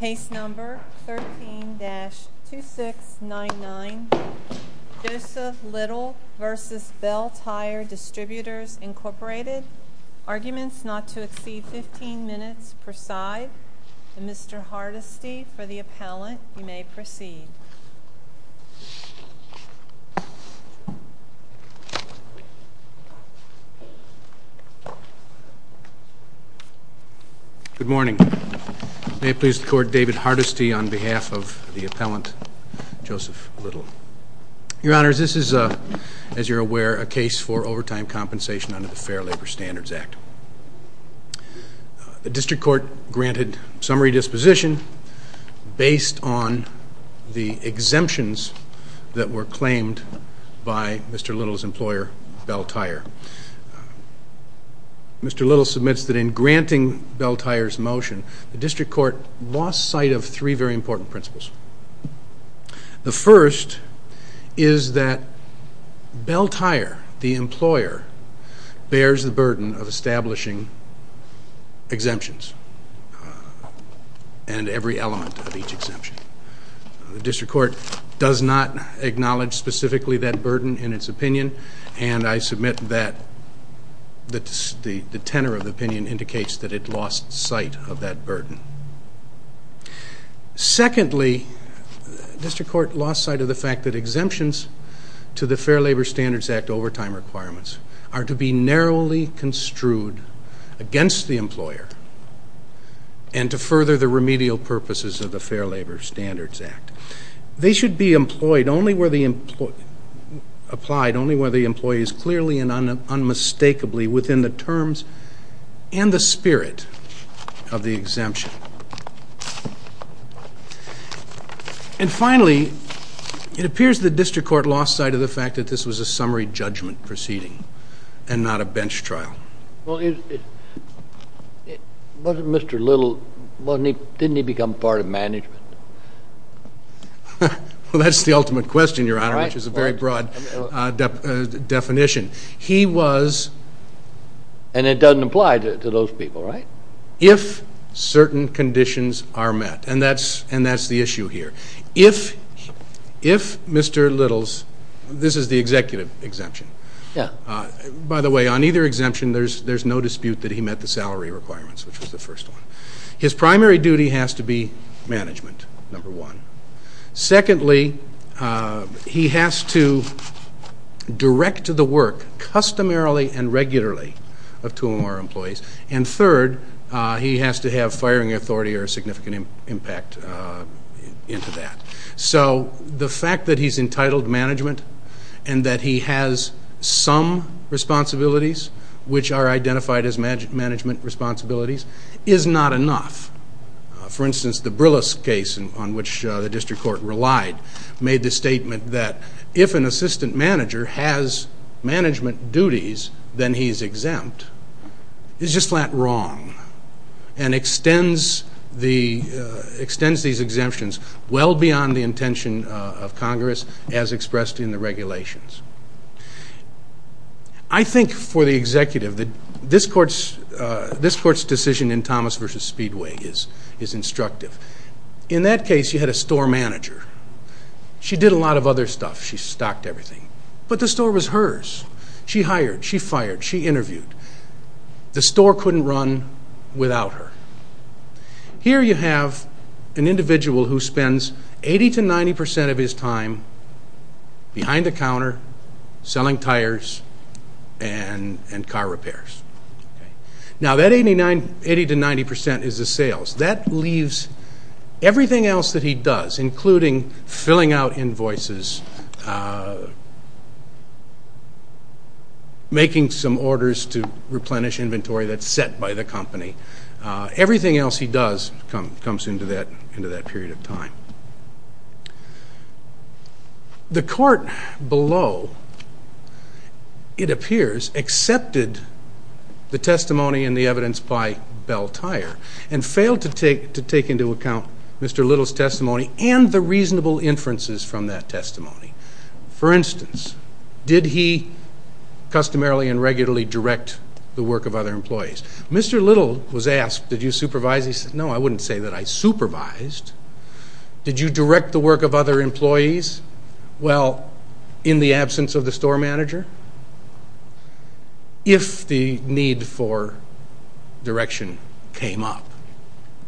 Case number 13-2699, Joseph Little v. Belle Tire Distributors Inc. Arguments not to exceed 15 minutes per side. Mr. Hardesty, for the appellant, you may proceed. Good morning. May it please the Court, David Hardesty on behalf of the appellant, Joseph Little. Your Honors, this is, as you're aware, a case for overtime compensation under the Fair Labor Standards Act. The district court granted summary disposition based on the exemptions that were claimed by Mr. Little's employer, Belle Tire. Mr. Little submits that in granting Belle Tire's motion, the district court lost sight of three very important principles. The first is that Belle Tire, the employer, bears the burden of establishing exemptions and every element of each exemption. The district court does not acknowledge specifically that burden in its opinion and I submit that the tenor of the opinion indicates that it lost sight of that burden. Secondly, the district court lost sight of the fact that exemptions to the Fair Labor Standards Act overtime requirements are to be narrowly construed against the employer and to further the remedial purposes of the Fair Labor Standards Act. They should be applied only where the employee is clearly and unmistakably within the terms and the spirit of the exemption. And finally, it appears the district court lost sight of the fact that this was a summary judgment proceeding and not a bench trial. Well, wasn't Mr. Little, didn't he become part of management? Well, that's the ultimate question, Your Honor, which is a very broad definition. He was... And it doesn't apply to those people, right? If certain conditions are met and that's the issue here. If Mr. Little's... This is the executive exemption. By the way, on either exemption, there's no dispute that he met the salary requirements, which was the first one. His primary duty has to be management, number one. Secondly, he has to direct the work customarily and regularly of 2MR employees. And third, he has to have firing authority or significant impact into that. So the fact that he's entitled management and that he has some responsibilities, which are identified as management responsibilities, is not enough. For instance, the Brillis case on which the district court relied made the statement that if an assistant manager has management duties, then he's exempt. It's just flat wrong and extends these exemptions well beyond the intention of Congress as expressed in the regulations. I think for the executive that this court's decision in Thomas v. Speedway is instructive. In that case, you had a store manager. She did a lot of other stuff. She stocked everything. But the store was hers. She hired, she fired, she interviewed. The store couldn't run without her. Here you have an individual who spends 80% to 90% of his time behind the counter selling tires and car repairs. Now that 80% to 90% is the sales. That leaves everything else that he does, including filling out invoices, making some orders to replenish inventory that's set by the company. Everything else he does comes into that period of time. The court below, it appears, accepted the testimony and the evidence by Bell Tire and failed to take into account Mr. Little's testimony and the reasonable inferences from that testimony. For instance, did he customarily and regularly direct the work of other employees? Mr. Little was asked, did you supervise? He said, no, I wouldn't say that I supervised. Did you direct the work of other employees? Well, in the absence of the store manager? If the need for direction came up.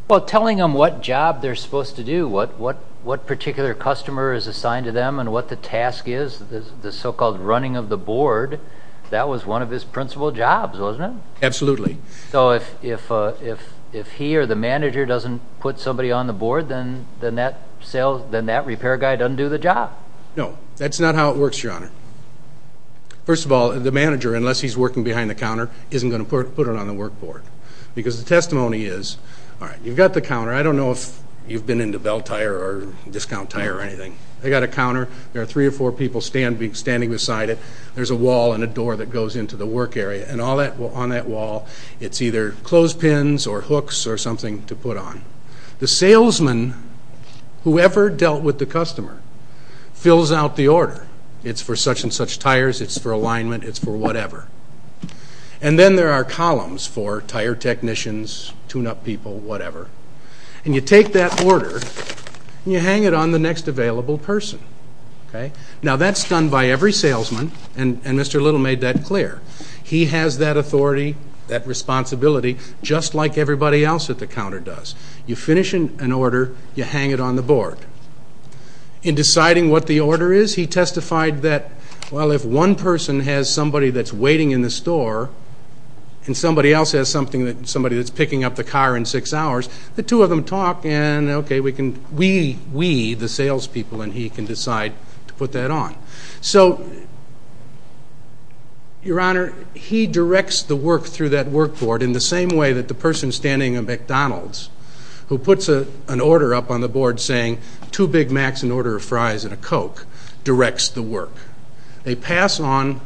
Well, telling them what job they're supposed to do, what particular customer is assigned to them and what the task is, the so-called running of the board, that was one of his principal jobs, wasn't it? Absolutely. So if he or the manager doesn't put somebody on the board, then that repair guy doesn't do the job? No, that's not how it works, Your Honor. First of all, the manager, unless he's working behind the counter, isn't going to put it on the work board. Because the testimony is, all right, you've got the counter. I don't know if you've been into Bell Tire or Discount Tire or anything. They've got a counter. There are three or four people standing beside it. There's a wall and a door that goes into the work area. And on that wall, it's either clothespins or hooks or something to put on. The salesman, whoever dealt with the customer, fills out the order. It's for such-and-such tires, it's for alignment, it's for whatever. And then there are columns for tire technicians, tune-up people, whatever. And you take that order and you hang it on the next available person. Okay? Now that's done by every salesman, and Mr. Little made that clear. He has that authority, that responsibility, just like everybody else at the counter does. You finish an order, you hang it on the board. In deciding what the order is, he testified that, well, if one person has somebody that's waiting in the store, and somebody else has somebody that's picking up the car in six hours, the two of them talk, and okay, we, the salespeople, and he can decide to put that on. So, Your Honor, he directs the work through that work board in the same way that the person standing at McDonald's, who puts an order up on the board saying, two Big Macs, an order of fries, and a Coke, directs the work. They pass on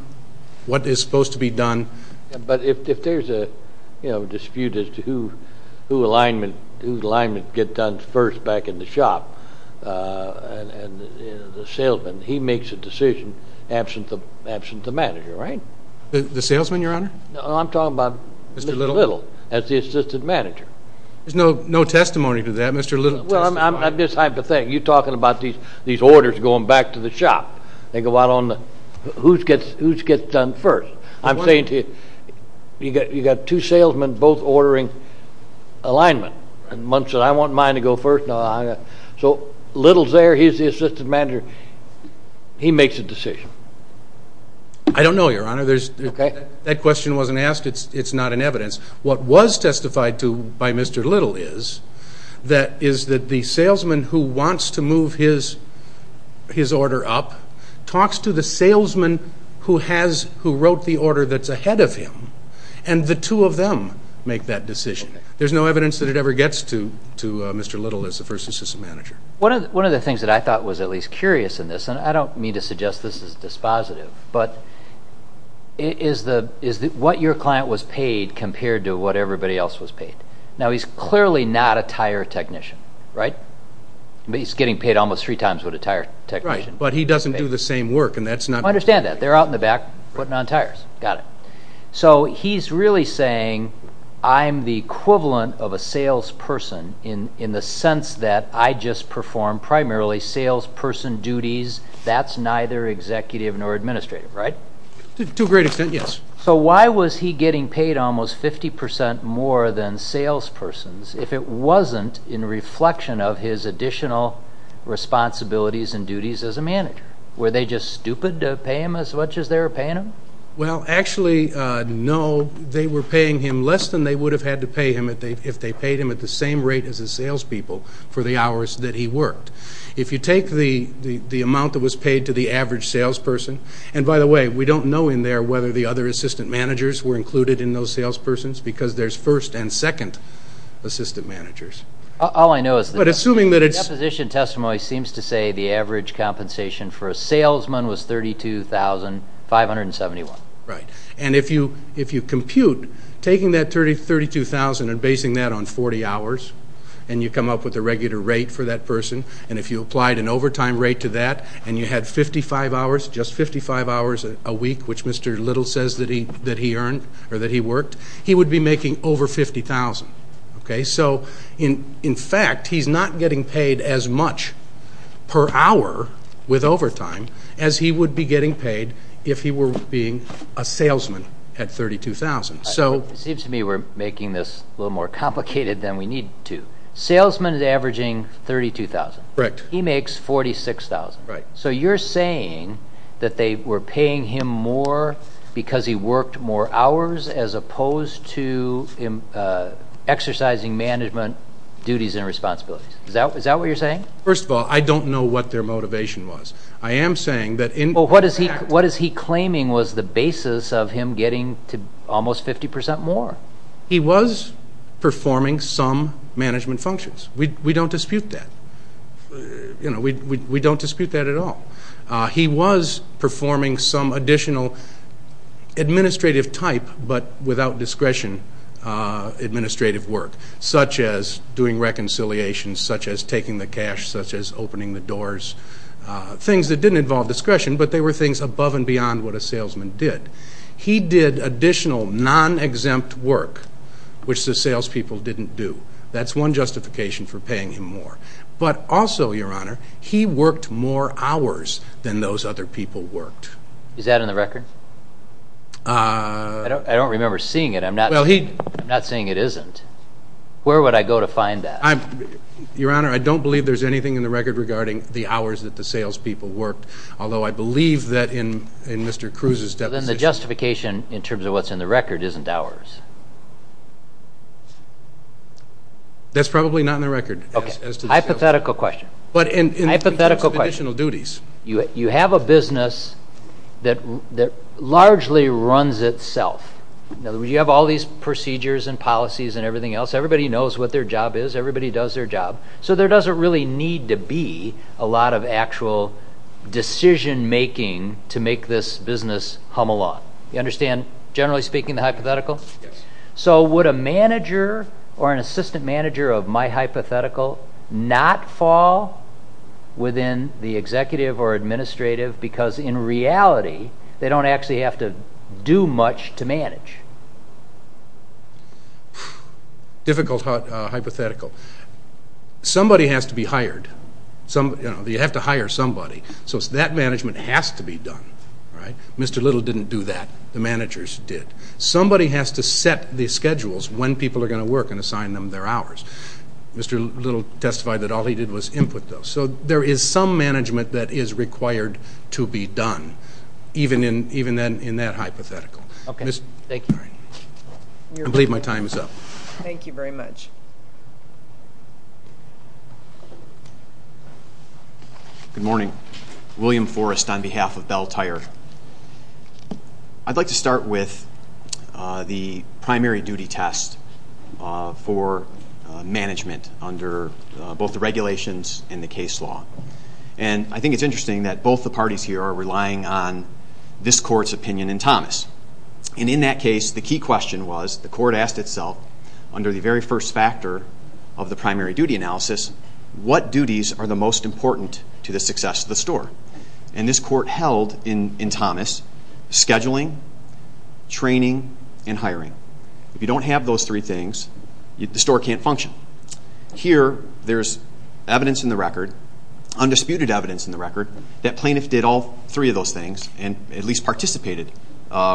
what is supposed to be done. But if there's a, you know, dispute as to who alignment, whose alignment get done first back in the shop, and the salesman, he makes a decision, absent the manager, right? The salesman, Your Honor? No, I'm talking about Mr. Little, as the assistant manager. There's no testimony to that. Mr. Little testified. Well, I'm just hypothetical. You're talking about these orders going back to the shop. They go out on the, whose gets done first? I'm saying to you, you got two salesmen both ordering alignment, and one said, I want mine to go first. So, Little's there, he's the assistant manager. He makes a decision. I don't know, Your Honor. That question wasn't asked. It's not in evidence. What was testified to by Mr. Little is that the salesman who wants to move his order up talks to the salesman who wrote the order that's ahead of him, and the two of them make that decision. There's no evidence that it ever gets to Mr. Little as the first assistant manager. One of the things that I thought was at least curious in this, and I don't mean to suggest this is dispositive, but is that what your client was paid compared to what everybody else was paid? Now, he's clearly not a tire technician, right? He's getting paid almost three times what a tire technician. Right, but he doesn't do the same work, and that's not... I understand that. They're out in the back putting on tires. Got it. So, he's really saying I'm the equivalent of a salesperson in the sense that I just perform primarily salesperson duties. That's neither executive nor administrative, right? To a great extent, yes. So, why was he getting paid almost 50% more than salespersons if it wasn't in reflection of his additional responsibilities and duties as a manager? Were they just stupid to pay him as much as they were paying him? Well, actually, no. They were paying him less than they would have had to pay him if they paid him at the same rate as the salespeople for the hours that he worked. If you take the amount that was paid to the average salesperson, and by the way, we don't know in there whether the other assistant managers were included in those salespersons because there's first and second assistant managers. All I know is... But assuming that it's... The deposition testimony seems to say the 32,571. Right. And if you compute, taking that 32,000 and basing that on 40 hours, and you come up with a regular rate for that person, and if you applied an overtime rate to that, and you had 55 hours, just 55 hours a week, which Mr. Little says that he earned or that he worked, he would be making over 50,000. So in fact, he's not getting paid as much per hour with overtime as he would be getting paid if he were being a salesman at 32,000. It seems to me we're making this a little more complicated than we need to. Salesman is averaging 32,000. Correct. He makes 46,000. Right. So you're saying that they were paying him more because he worked more hours as opposed to exercising management duties and responsibilities. Is that what you're saying? First of all, I don't know what their motivation was. I am saying that... Well, what is he claiming was the basis of him getting to almost 50% more? He was performing some management functions. We don't dispute that. We don't dispute that at all. He was performing some additional administrative type, but without discretion, administrative work, such as doing reconciliations, such as taking the cash, such as opening the doors, things that didn't involve discretion, but they were things above and beyond what a salesman did. He did additional non-exempt work, which the salespeople didn't do. That's one justification for paying him more. But also, Your Honor, he worked more hours than those other people worked. Is that in the record? I don't remember seeing it. I'm not saying it isn't. Where would I go to find that? Your Honor, I don't believe there's anything in the record regarding the hours that the salespeople worked, although I believe that in Mr. Cruz's deposition... That's probably not in the record. Okay. Hypothetical question. Hypothetical question. In terms of additional duties. You have a business that largely runs itself. In other words, you have all these procedures and policies and everything else. Everybody knows what their job is. Everybody does their job. So there doesn't really need to be a lot of actual decision-making to make this business hum along. You understand, generally speaking, the hypothetical? Yes. So would a manager or an assistant manager of my hypothetical not fall within the executive or administrative because, in reality, they don't actually have to do much to manage? Difficult hypothetical. Somebody has to be hired. You have to hire somebody. So that management has to be done. Mr. Little didn't do that. The managers did. Somebody has to set the schedules when people are going to work and assign them their hours. Mr. Little testified that all he did was input those. So there is some difference. Good morning. William Forrest on behalf of Bell Tire. I'd like to start with the primary duty test for management under both the regulations and the case law. And I think it's interesting that both the parties here are relying on this court's opinion and Thomas. And in that case, the key question was, the court asked itself, under the very first factor of the primary duty analysis, what duties are the most important to the success of the store? And this court held in Thomas scheduling, training, and hiring. If you don't have those three things, the store can't function. Here, there's evidence in the record, undisputed evidence in the record, that plaintiff did all three of those things and at least participated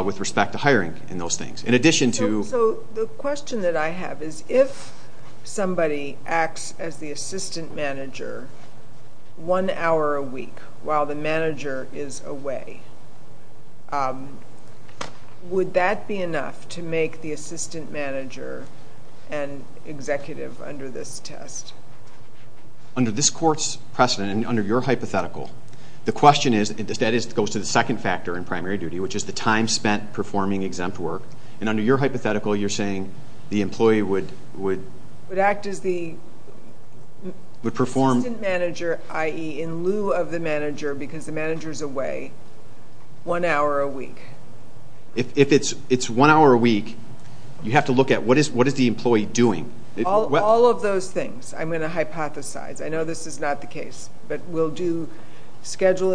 with respect to hiring in those things. In addition to... So the question that I have is, if somebody acts as the assistant manager one hour a week while the manager is away, would that be enough to make the assistant manager an executive under this test? Under this court's precedent and under your hypothetical, you're saying the employee would... Would act as the assistant manager, i.e., in lieu of the manager, because the manager's away, one hour a week. If it's one hour a week, you have to look at what is the employee doing? All of those things I'm going to hypothesize. I know this is not the case, but we'll do they'll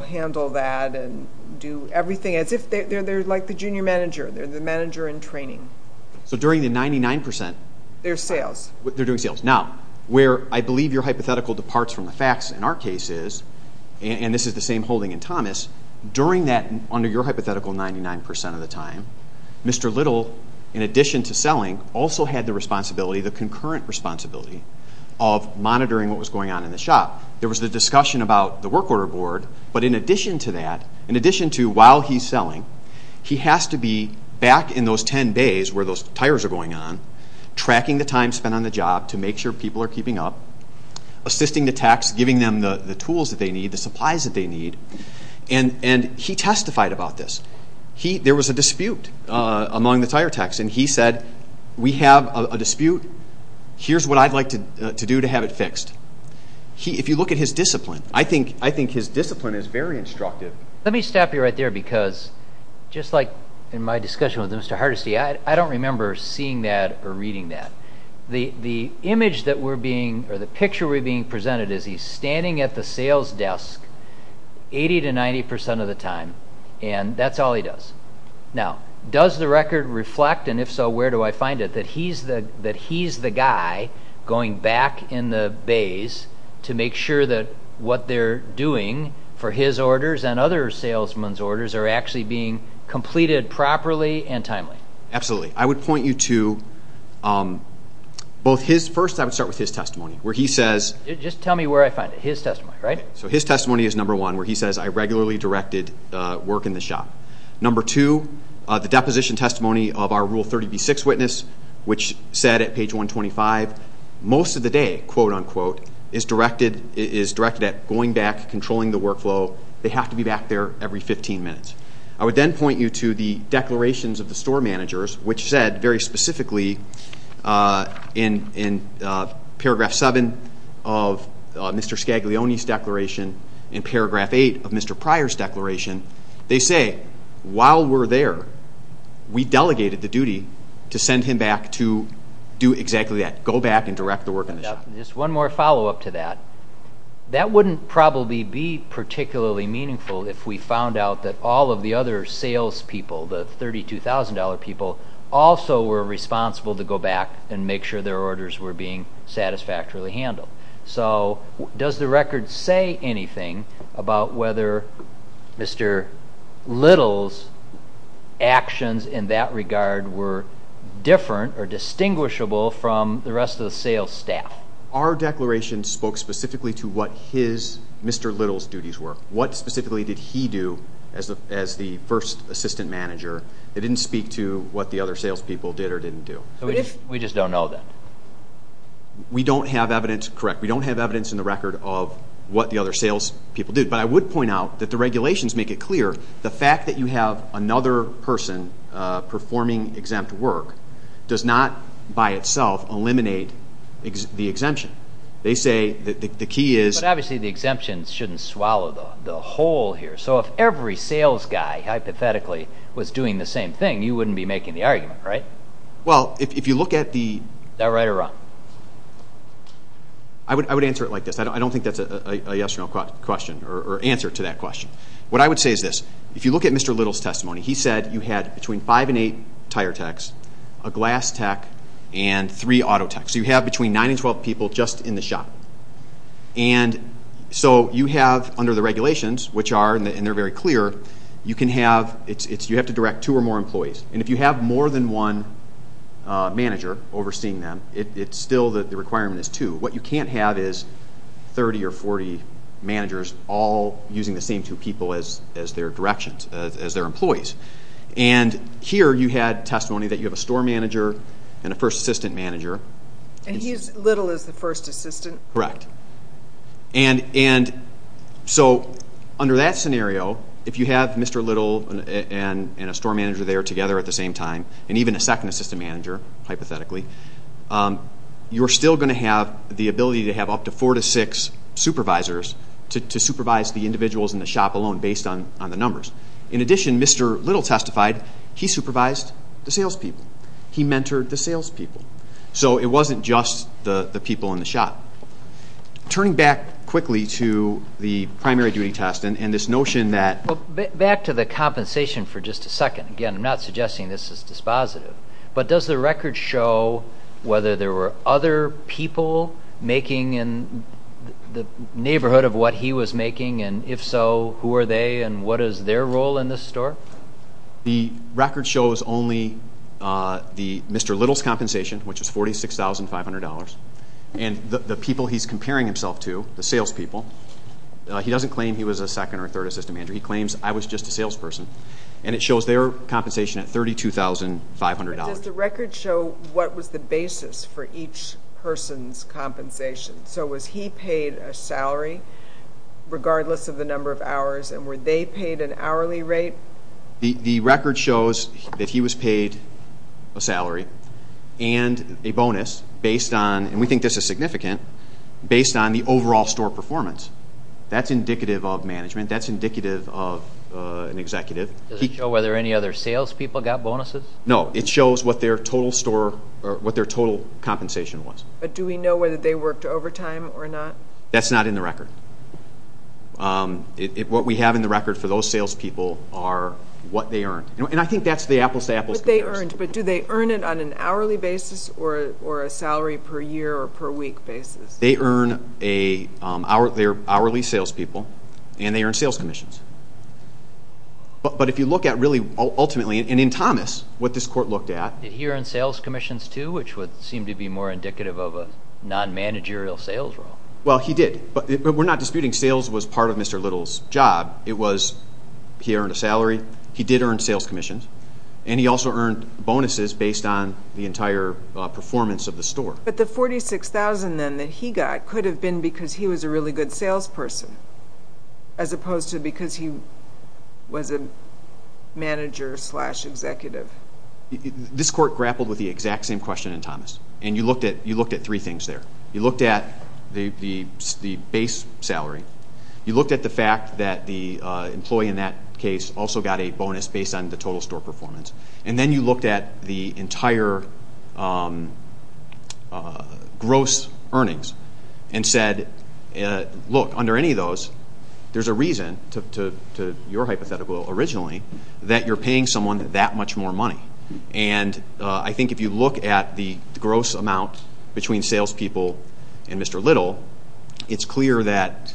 handle that and do everything as if they're like the junior manager. They're the manager in training. So during the 99%... They're sales. They're doing sales. Now, where I believe your hypothetical departs from the facts in our case is, and this is the same holding in Thomas, during that, under your hypothetical, 99% of the time, Mr. Little, in addition to selling, also had the responsibility, the concurrent responsibility, of monitoring what was going on in the shop. There was the discussion about the work order board, but in addition to that, in addition to while he's selling, he has to be back in those 10 days where those tires are going on, tracking the time spent on the job to make sure people are keeping up, assisting the techs, giving them the tools that they need, the supplies that they need, and he testified about this. There was a dispute among the tire techs, and he said, we have a dispute. Here's what I'd like to do to have it fixed. If you look at his discipline, I think his discipline is very instructive. Let me stop you right there because, just like in my discussion with Mr. Hardesty, I don't remember seeing that or reading that. The image that we're being, or the picture we're being presented is he's standing at the sales desk 80 to 90% of the time, and that's all he does. Now, does the record reflect, and if so, where do I go from here? He's the guy going back in the bays to make sure that what they're doing for his orders and other salesmen's orders are actually being completed properly and timely. Absolutely. I would point you to both his, first I would start with his testimony, where he says. Just tell me where I find it, his testimony, right? So his testimony is number one, where he says, I regularly directed work in the shop. Number two, the deposition testimony of our Rule 30B6 witness, which said at page 125, most of the day, quote unquote, is directed at going back, controlling the workflow. They have to be back there every 15 minutes. I would then point you to the declarations of the store managers, which said, very specifically, in paragraph 7 of Mr. Scaglione's declaration and paragraph 8 of Mr. Pryor's declaration, they say, while we're there, we delegated the duty to send him back to do exactly that, go back and direct the work in the shop. Just one more follow-up to that. That wouldn't probably be particularly meaningful if we found out that all of the other salespeople, the $32,000 people, also were responsible to go back and make sure their orders were being satisfactorily handled. So, does the record say anything about whether Mr. Little's actions in that regard were different or distinguishable from the rest of the sales staff? Our declaration spoke specifically to what his, Mr. Little's duties were. What specifically did he do as the first assistant manager? It didn't speak to what the other salespeople did or didn't do. We just don't know that. We don't have evidence, correct, we don't have evidence in the record of what the other salespeople did. But I would point out that the regulations make it clear, the fact that you have another person performing exempt work does not, by itself, eliminate the exemption. They say, the key is... But obviously the exemption shouldn't swallow the whole here. So if every sales guy, hypothetically, was doing the same thing, you wouldn't be making the argument, right? Well, if you look at the... Is that right or wrong? I would answer it like this. I don't think that's a yes or no question or answer to that question. What I would say is this. If you look at Mr. Little's testimony, he said you had between five and eight tire techs, a glass tech, and three auto techs. So you have between nine and twelve people just in the shop. And so you have, under the regulations, which are, and they're very clear, you can have, you have to direct two or more employees. And if you have more than one manager overseeing them, it's still, the requirement is two. What you can't have is 30 or 40 managers all using the same two people as their directions, as their employees. And here you had testimony that you have a store manager and a first assistant manager. And he's, Little is the first assistant? Correct. And so, under that scenario, if you have Mr. Little and a store manager there together at the same time, and even a second assistant manager, hypothetically, you're still going to have the ability to have up to four to six supervisors to supervise the individuals in the shop alone, based on the numbers. In addition, Mr. Little testified, he supervised the salespeople. He mentored the salespeople. So it wasn't just the people in the shop. Turning back quickly to the primary duty test and this notion that... Back to the compensation for just a second. Again, I'm not suggesting this is dispositive. But does the record show whether there were other people making in the neighborhood of what he was making? And if so, who are they and what is their role in this store? The record shows only Mr. Little's compensation, which is $46,500. And the people he's comparing himself to, the salespeople, he doesn't claim he was a second or third assistant manager. He claims, I was just a salesperson. And it shows their compensation at $32,500. But does the record show what was the basis for each person's compensation? So was he paid a salary, regardless of the number of hours, and were they paid an hourly rate? The record shows that he was paid a salary and a bonus based on, and we think this is significant, based on the overall store performance. That's indicative of management. That's indicative of an executive. Does it show whether any other salespeople got bonuses? No. It shows what their total store or what their total compensation was. But do we know whether they worked overtime or not? That's not in the record. What we have in the record for those salespeople are what they earned. And I think that's the apples-to-apples comparison. What they earned. But do they earn it on an hourly basis or a salary-per-year or per-week basis? They earn a hourly salespeople, and they earn sales commissions. But if you look at, really, ultimately, and in Thomas, what this court looked at. Did he earn sales commissions, too, which would seem to be more indicative of a non-managerial sales role? Well, he did. But we're not disputing sales was part of Mr. Little's job. It was he earned a salary, he did earn sales commissions, and he also earned bonuses based on the entire performance of the store. But the $46,000, then, that he got could have been because he was a really good salesperson as opposed to because he was a manager-slash-executive. This court grappled with the exact same question in Thomas, and you looked at three things there. You looked at the base salary. You looked at the fact that the employee in that case also got a bonus based on the total store performance. And then you looked at the entire gross earnings and said, look, under any of those, there's a reason, to your hypothetical originally, that you're paying someone that much more money. And I think if you look at the gross amount between salespeople and Mr. Little, it's clear that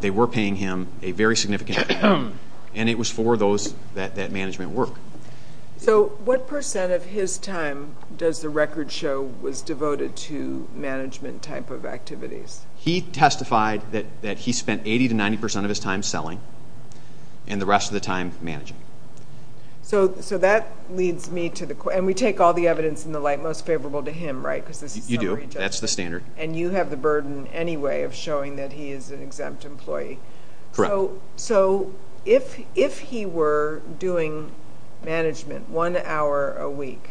they were paying him a very significant amount, and it was for that management work. So what percent of his time does the record show was devoted to management type of activities? He testified that he spent 80 to 90 percent of his time selling and the rest of the time managing. So that leads me to the question, and we take all the evidence in the light most favorable to him, right? You do. That's the standard. And you have the burden anyway of showing that he is an exempt employee. Correct. So if he were doing management one hour a week,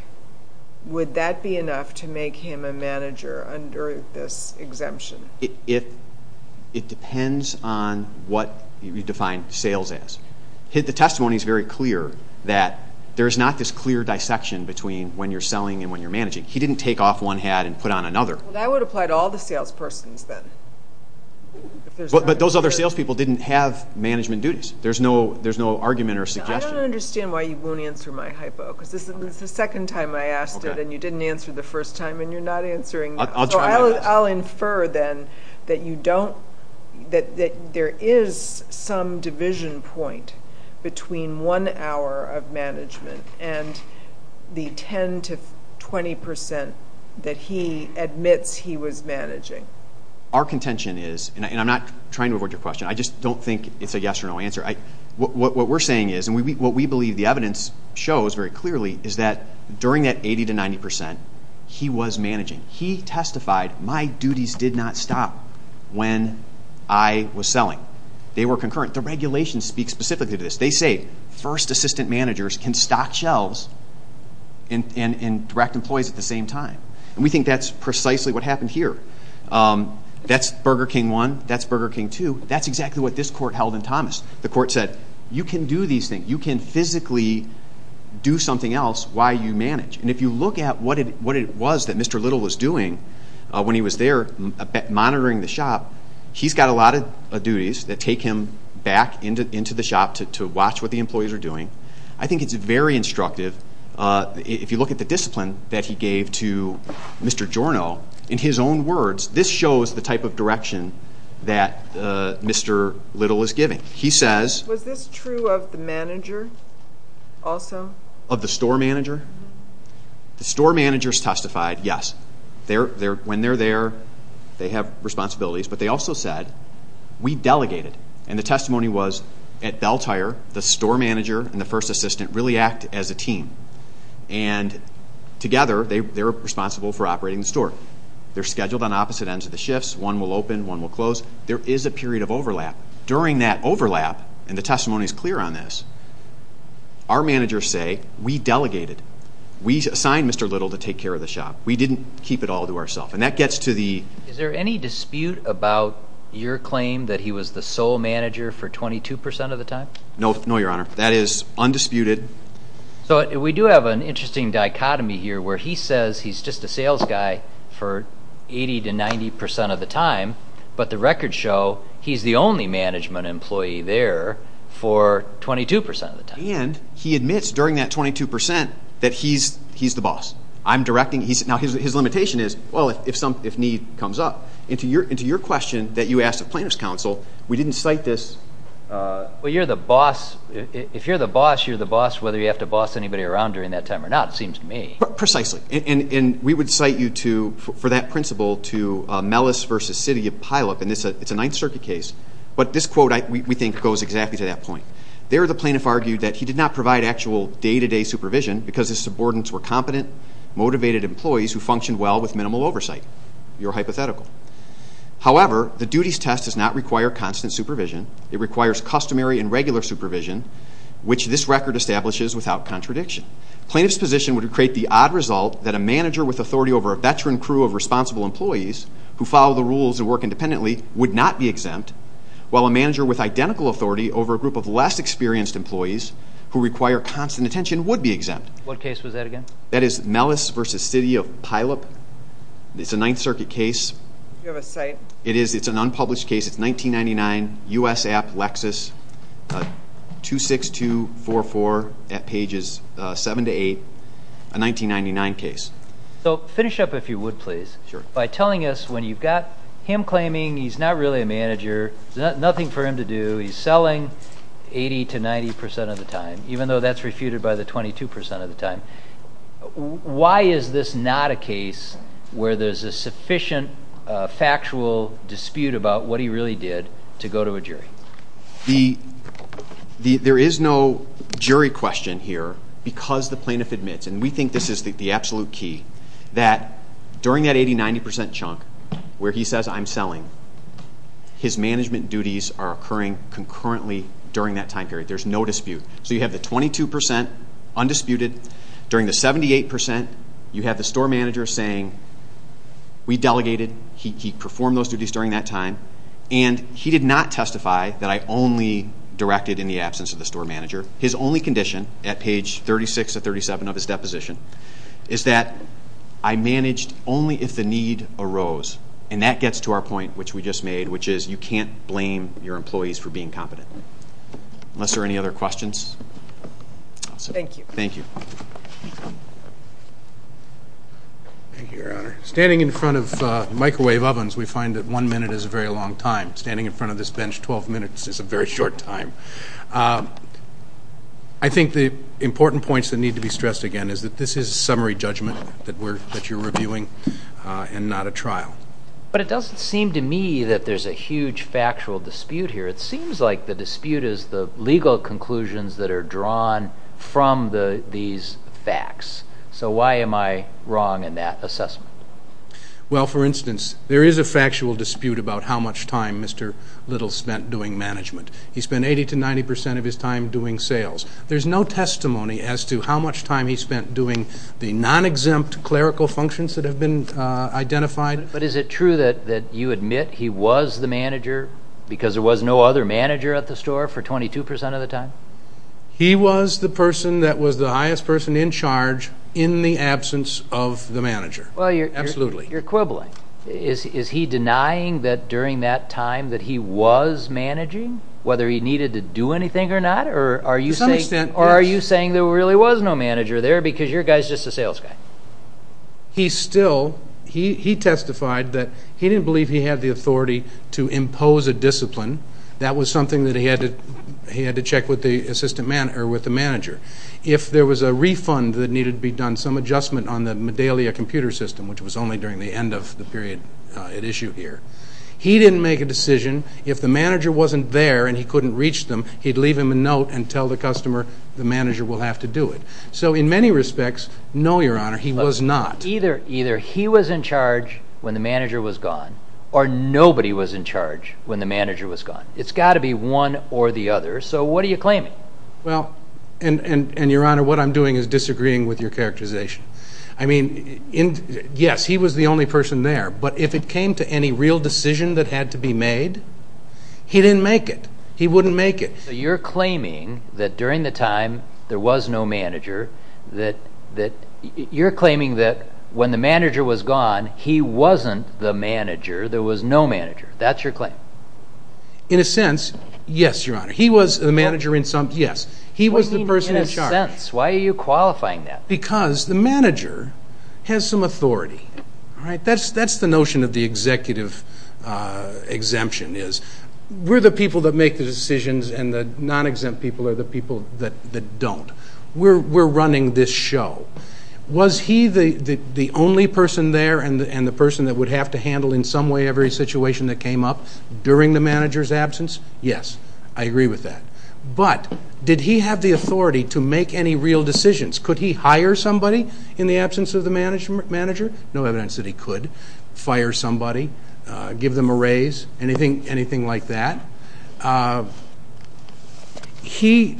would that be enough to make him a manager under this exemption? It depends on what you define sales as. The testimony is very clear that there's not this clear dissection between when you're selling and when you're managing. He didn't take off one hat and put on another. Well, that would apply to all the salespersons then. But those other salespeople didn't have management duties. There's no argument or suggestion. I don't understand why you won't answer my hypo because this is the second time I asked it, and you didn't answer the first time, and you're not answering. I'll try my best. I'll infer then that there is some division point between one hour of management and the 10 to 20 percent that he admits he was managing. Our contention is, and I'm not trying to avoid your question. I just don't think it's a yes or no answer. What we're saying is, and what we believe the evidence shows very clearly, is that during that 80 to 90 percent, he was managing. He testified, my duties did not stop when I was selling. They were concurrent. The regulations speak specifically to this. They say first assistant managers can stock shelves and direct employees at the same time. And we think that's precisely what happened here. That's Burger King 1. That's Burger King 2. That's exactly what this court held in Thomas. The court said, you can do these things. You can physically do something else while you manage. And if you look at what it was that Mr. Little was doing when he was there monitoring the shop, he's got a lot of duties that take him back into the shop to watch what the employees are doing. I think it's very instructive. If you look at the discipline that he gave to Mr. Giorno, in his own words, this shows the type of direction that Mr. Little is giving. He says. Was this true of the manager also? Of the store manager? The store managers testified, yes. When they're there, they have responsibilities. But they also said, we delegated. And the testimony was, at Bell Tire, the store manager and the first assistant really act as a team. And together, they're responsible for operating the store. They're scheduled on opposite ends of the shifts. One will open, one will close. There is a period of overlap. During that overlap, and the testimony is clear on this, our managers say, we delegated. We assigned Mr. Little to take care of the shop. We didn't keep it all to ourselves. And that gets to the... No, Your Honor. That is undisputed. So we do have an interesting dichotomy here where he says he's just a sales guy for 80 to 90 percent of the time, but the records show he's the only management employee there for 22 percent of the time. And he admits during that 22 percent that he's the boss. I'm directing... Now, his limitation is, well, if need comes up. Into your question that you asked the plaintiff's counsel, we didn't cite this. Well, you're the boss. If you're the boss, you're the boss whether you have to boss anybody around during that time or not, it seems to me. Precisely. And we would cite you for that principle to Mellis v. City of Pylup. And it's a Ninth Circuit case. But this quote, we think, goes exactly to that point. There, the plaintiff argued that he did not provide actual day-to-day supervision because his subordinates were competent, motivated employees who functioned well with minimal oversight. You're hypothetical. However, the duties test does not require constant supervision. It requires customary and regular supervision, which this record establishes without contradiction. Plaintiff's position would create the odd result that a manager with authority over a veteran crew of responsible employees who follow the rules and work independently would not be exempt, while a manager with identical authority over a group of less experienced employees who require constant attention would be exempt. What case was that again? That is Mellis v. City of Pylup. It's a Ninth Circuit case. Do you have a cite? It is. It's an unpublished case. It's 1999, U.S. App, Lexis, 26244 at pages 7 to 8, a 1999 case. So finish up if you would, please. Sure. By telling us when you've got him claiming he's not really a manager, there's nothing for him to do, he's selling 80% to 90% of the time, even though that's refuted by the 22% of the time. Why is this not a case where there's a sufficient factual dispute about what he really did to go to a jury? There is no jury question here because the plaintiff admits, and we think this is the absolute key, that during that 80%, 90% chunk where he says, I'm selling, his management duties are occurring concurrently during that time period. There's no dispute. So you have the 22% undisputed. During the 78%, you have the store manager saying, we delegated, he performed those duties during that time, and he did not testify that I only directed in the absence of the store manager. His only condition at page 36 to 37 of his deposition is that I managed only if the need arose, and that gets to our point, which we just made, which is you can't blame your employees for being competent. Unless there are any other questions? Thank you. Thank you. Thank you, Your Honor. Standing in front of microwave ovens, we find that one minute is a very long time. Standing in front of this bench, 12 minutes is a very short time. I think the important points that need to be stressed again is that this is a summary judgment that you're reviewing and not a trial. But it doesn't seem to me that there's a huge factual dispute here. It seems like the dispute is the legal conclusions that are drawn from these facts. So why am I wrong in that assessment? Well, for instance, there is a factual dispute about how much time Mr. Little spent doing management. He spent 80% to 90% of his time doing sales. There's no testimony as to how much time he spent doing the non-exempt clerical functions that have been identified. But is it true that you admit he was the manager because there was no other manager at the store for 22% of the time? He was the person that was the highest person in charge in the absence of the manager. Absolutely. You're quibbling. Is he denying that during that time that he was managing, whether he needed to do anything or not? To some extent, yes. Or are you saying there really was no manager there because your guy is just a sales guy? He still testified that he didn't believe he had the authority to impose a discipline. That was something that he had to check with the manager. If there was a refund that needed to be done, some adjustment on the Medalia computer system, which was only during the end of the period at issue here, he didn't make a decision. If the manager wasn't there and he couldn't reach them, he'd leave him a note and tell the customer the manager will have to do it. So in many respects, no, Your Honor, he was not. Either he was in charge when the manager was gone or nobody was in charge when the manager was gone. It's got to be one or the other. So what are you claiming? Well, and, Your Honor, what I'm doing is disagreeing with your characterization. I mean, yes, he was the only person there. But if it came to any real decision that had to be made, he didn't make it. He wouldn't make it. So you're claiming that during the time there was no manager, you're claiming that when the manager was gone, he wasn't the manager, there was no manager. In a sense, yes, Your Honor. He was the manager in some, yes. He was the person in charge. What do you mean in a sense? Why are you qualifying that? Because the manager has some authority, all right? That's the notion of the executive exemption is we're the people that make the decisions and the non-exempt people are the people that don't. We're running this show. Was he the only person there and the person that would have to handle in some way every situation that came up during the manager's absence? Yes, I agree with that. But did he have the authority to make any real decisions? Could he hire somebody in the absence of the manager? No evidence that he could fire somebody, give them a raise, anything like that. He,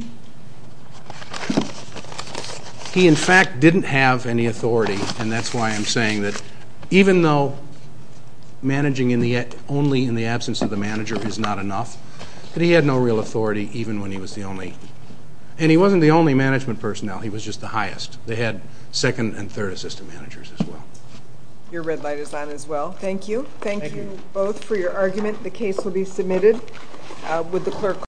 in fact, didn't have any authority, and that's why I'm saying that even though managing only in the absence of the manager is not enough, that he had no real authority even when he was the only. And he wasn't the only management personnel. He was just the highest. They had second and third assistant managers as well. Your red light is on as well. Thank you. Thank you both for your argument. The case will be submitted. Would the clerk call the roll?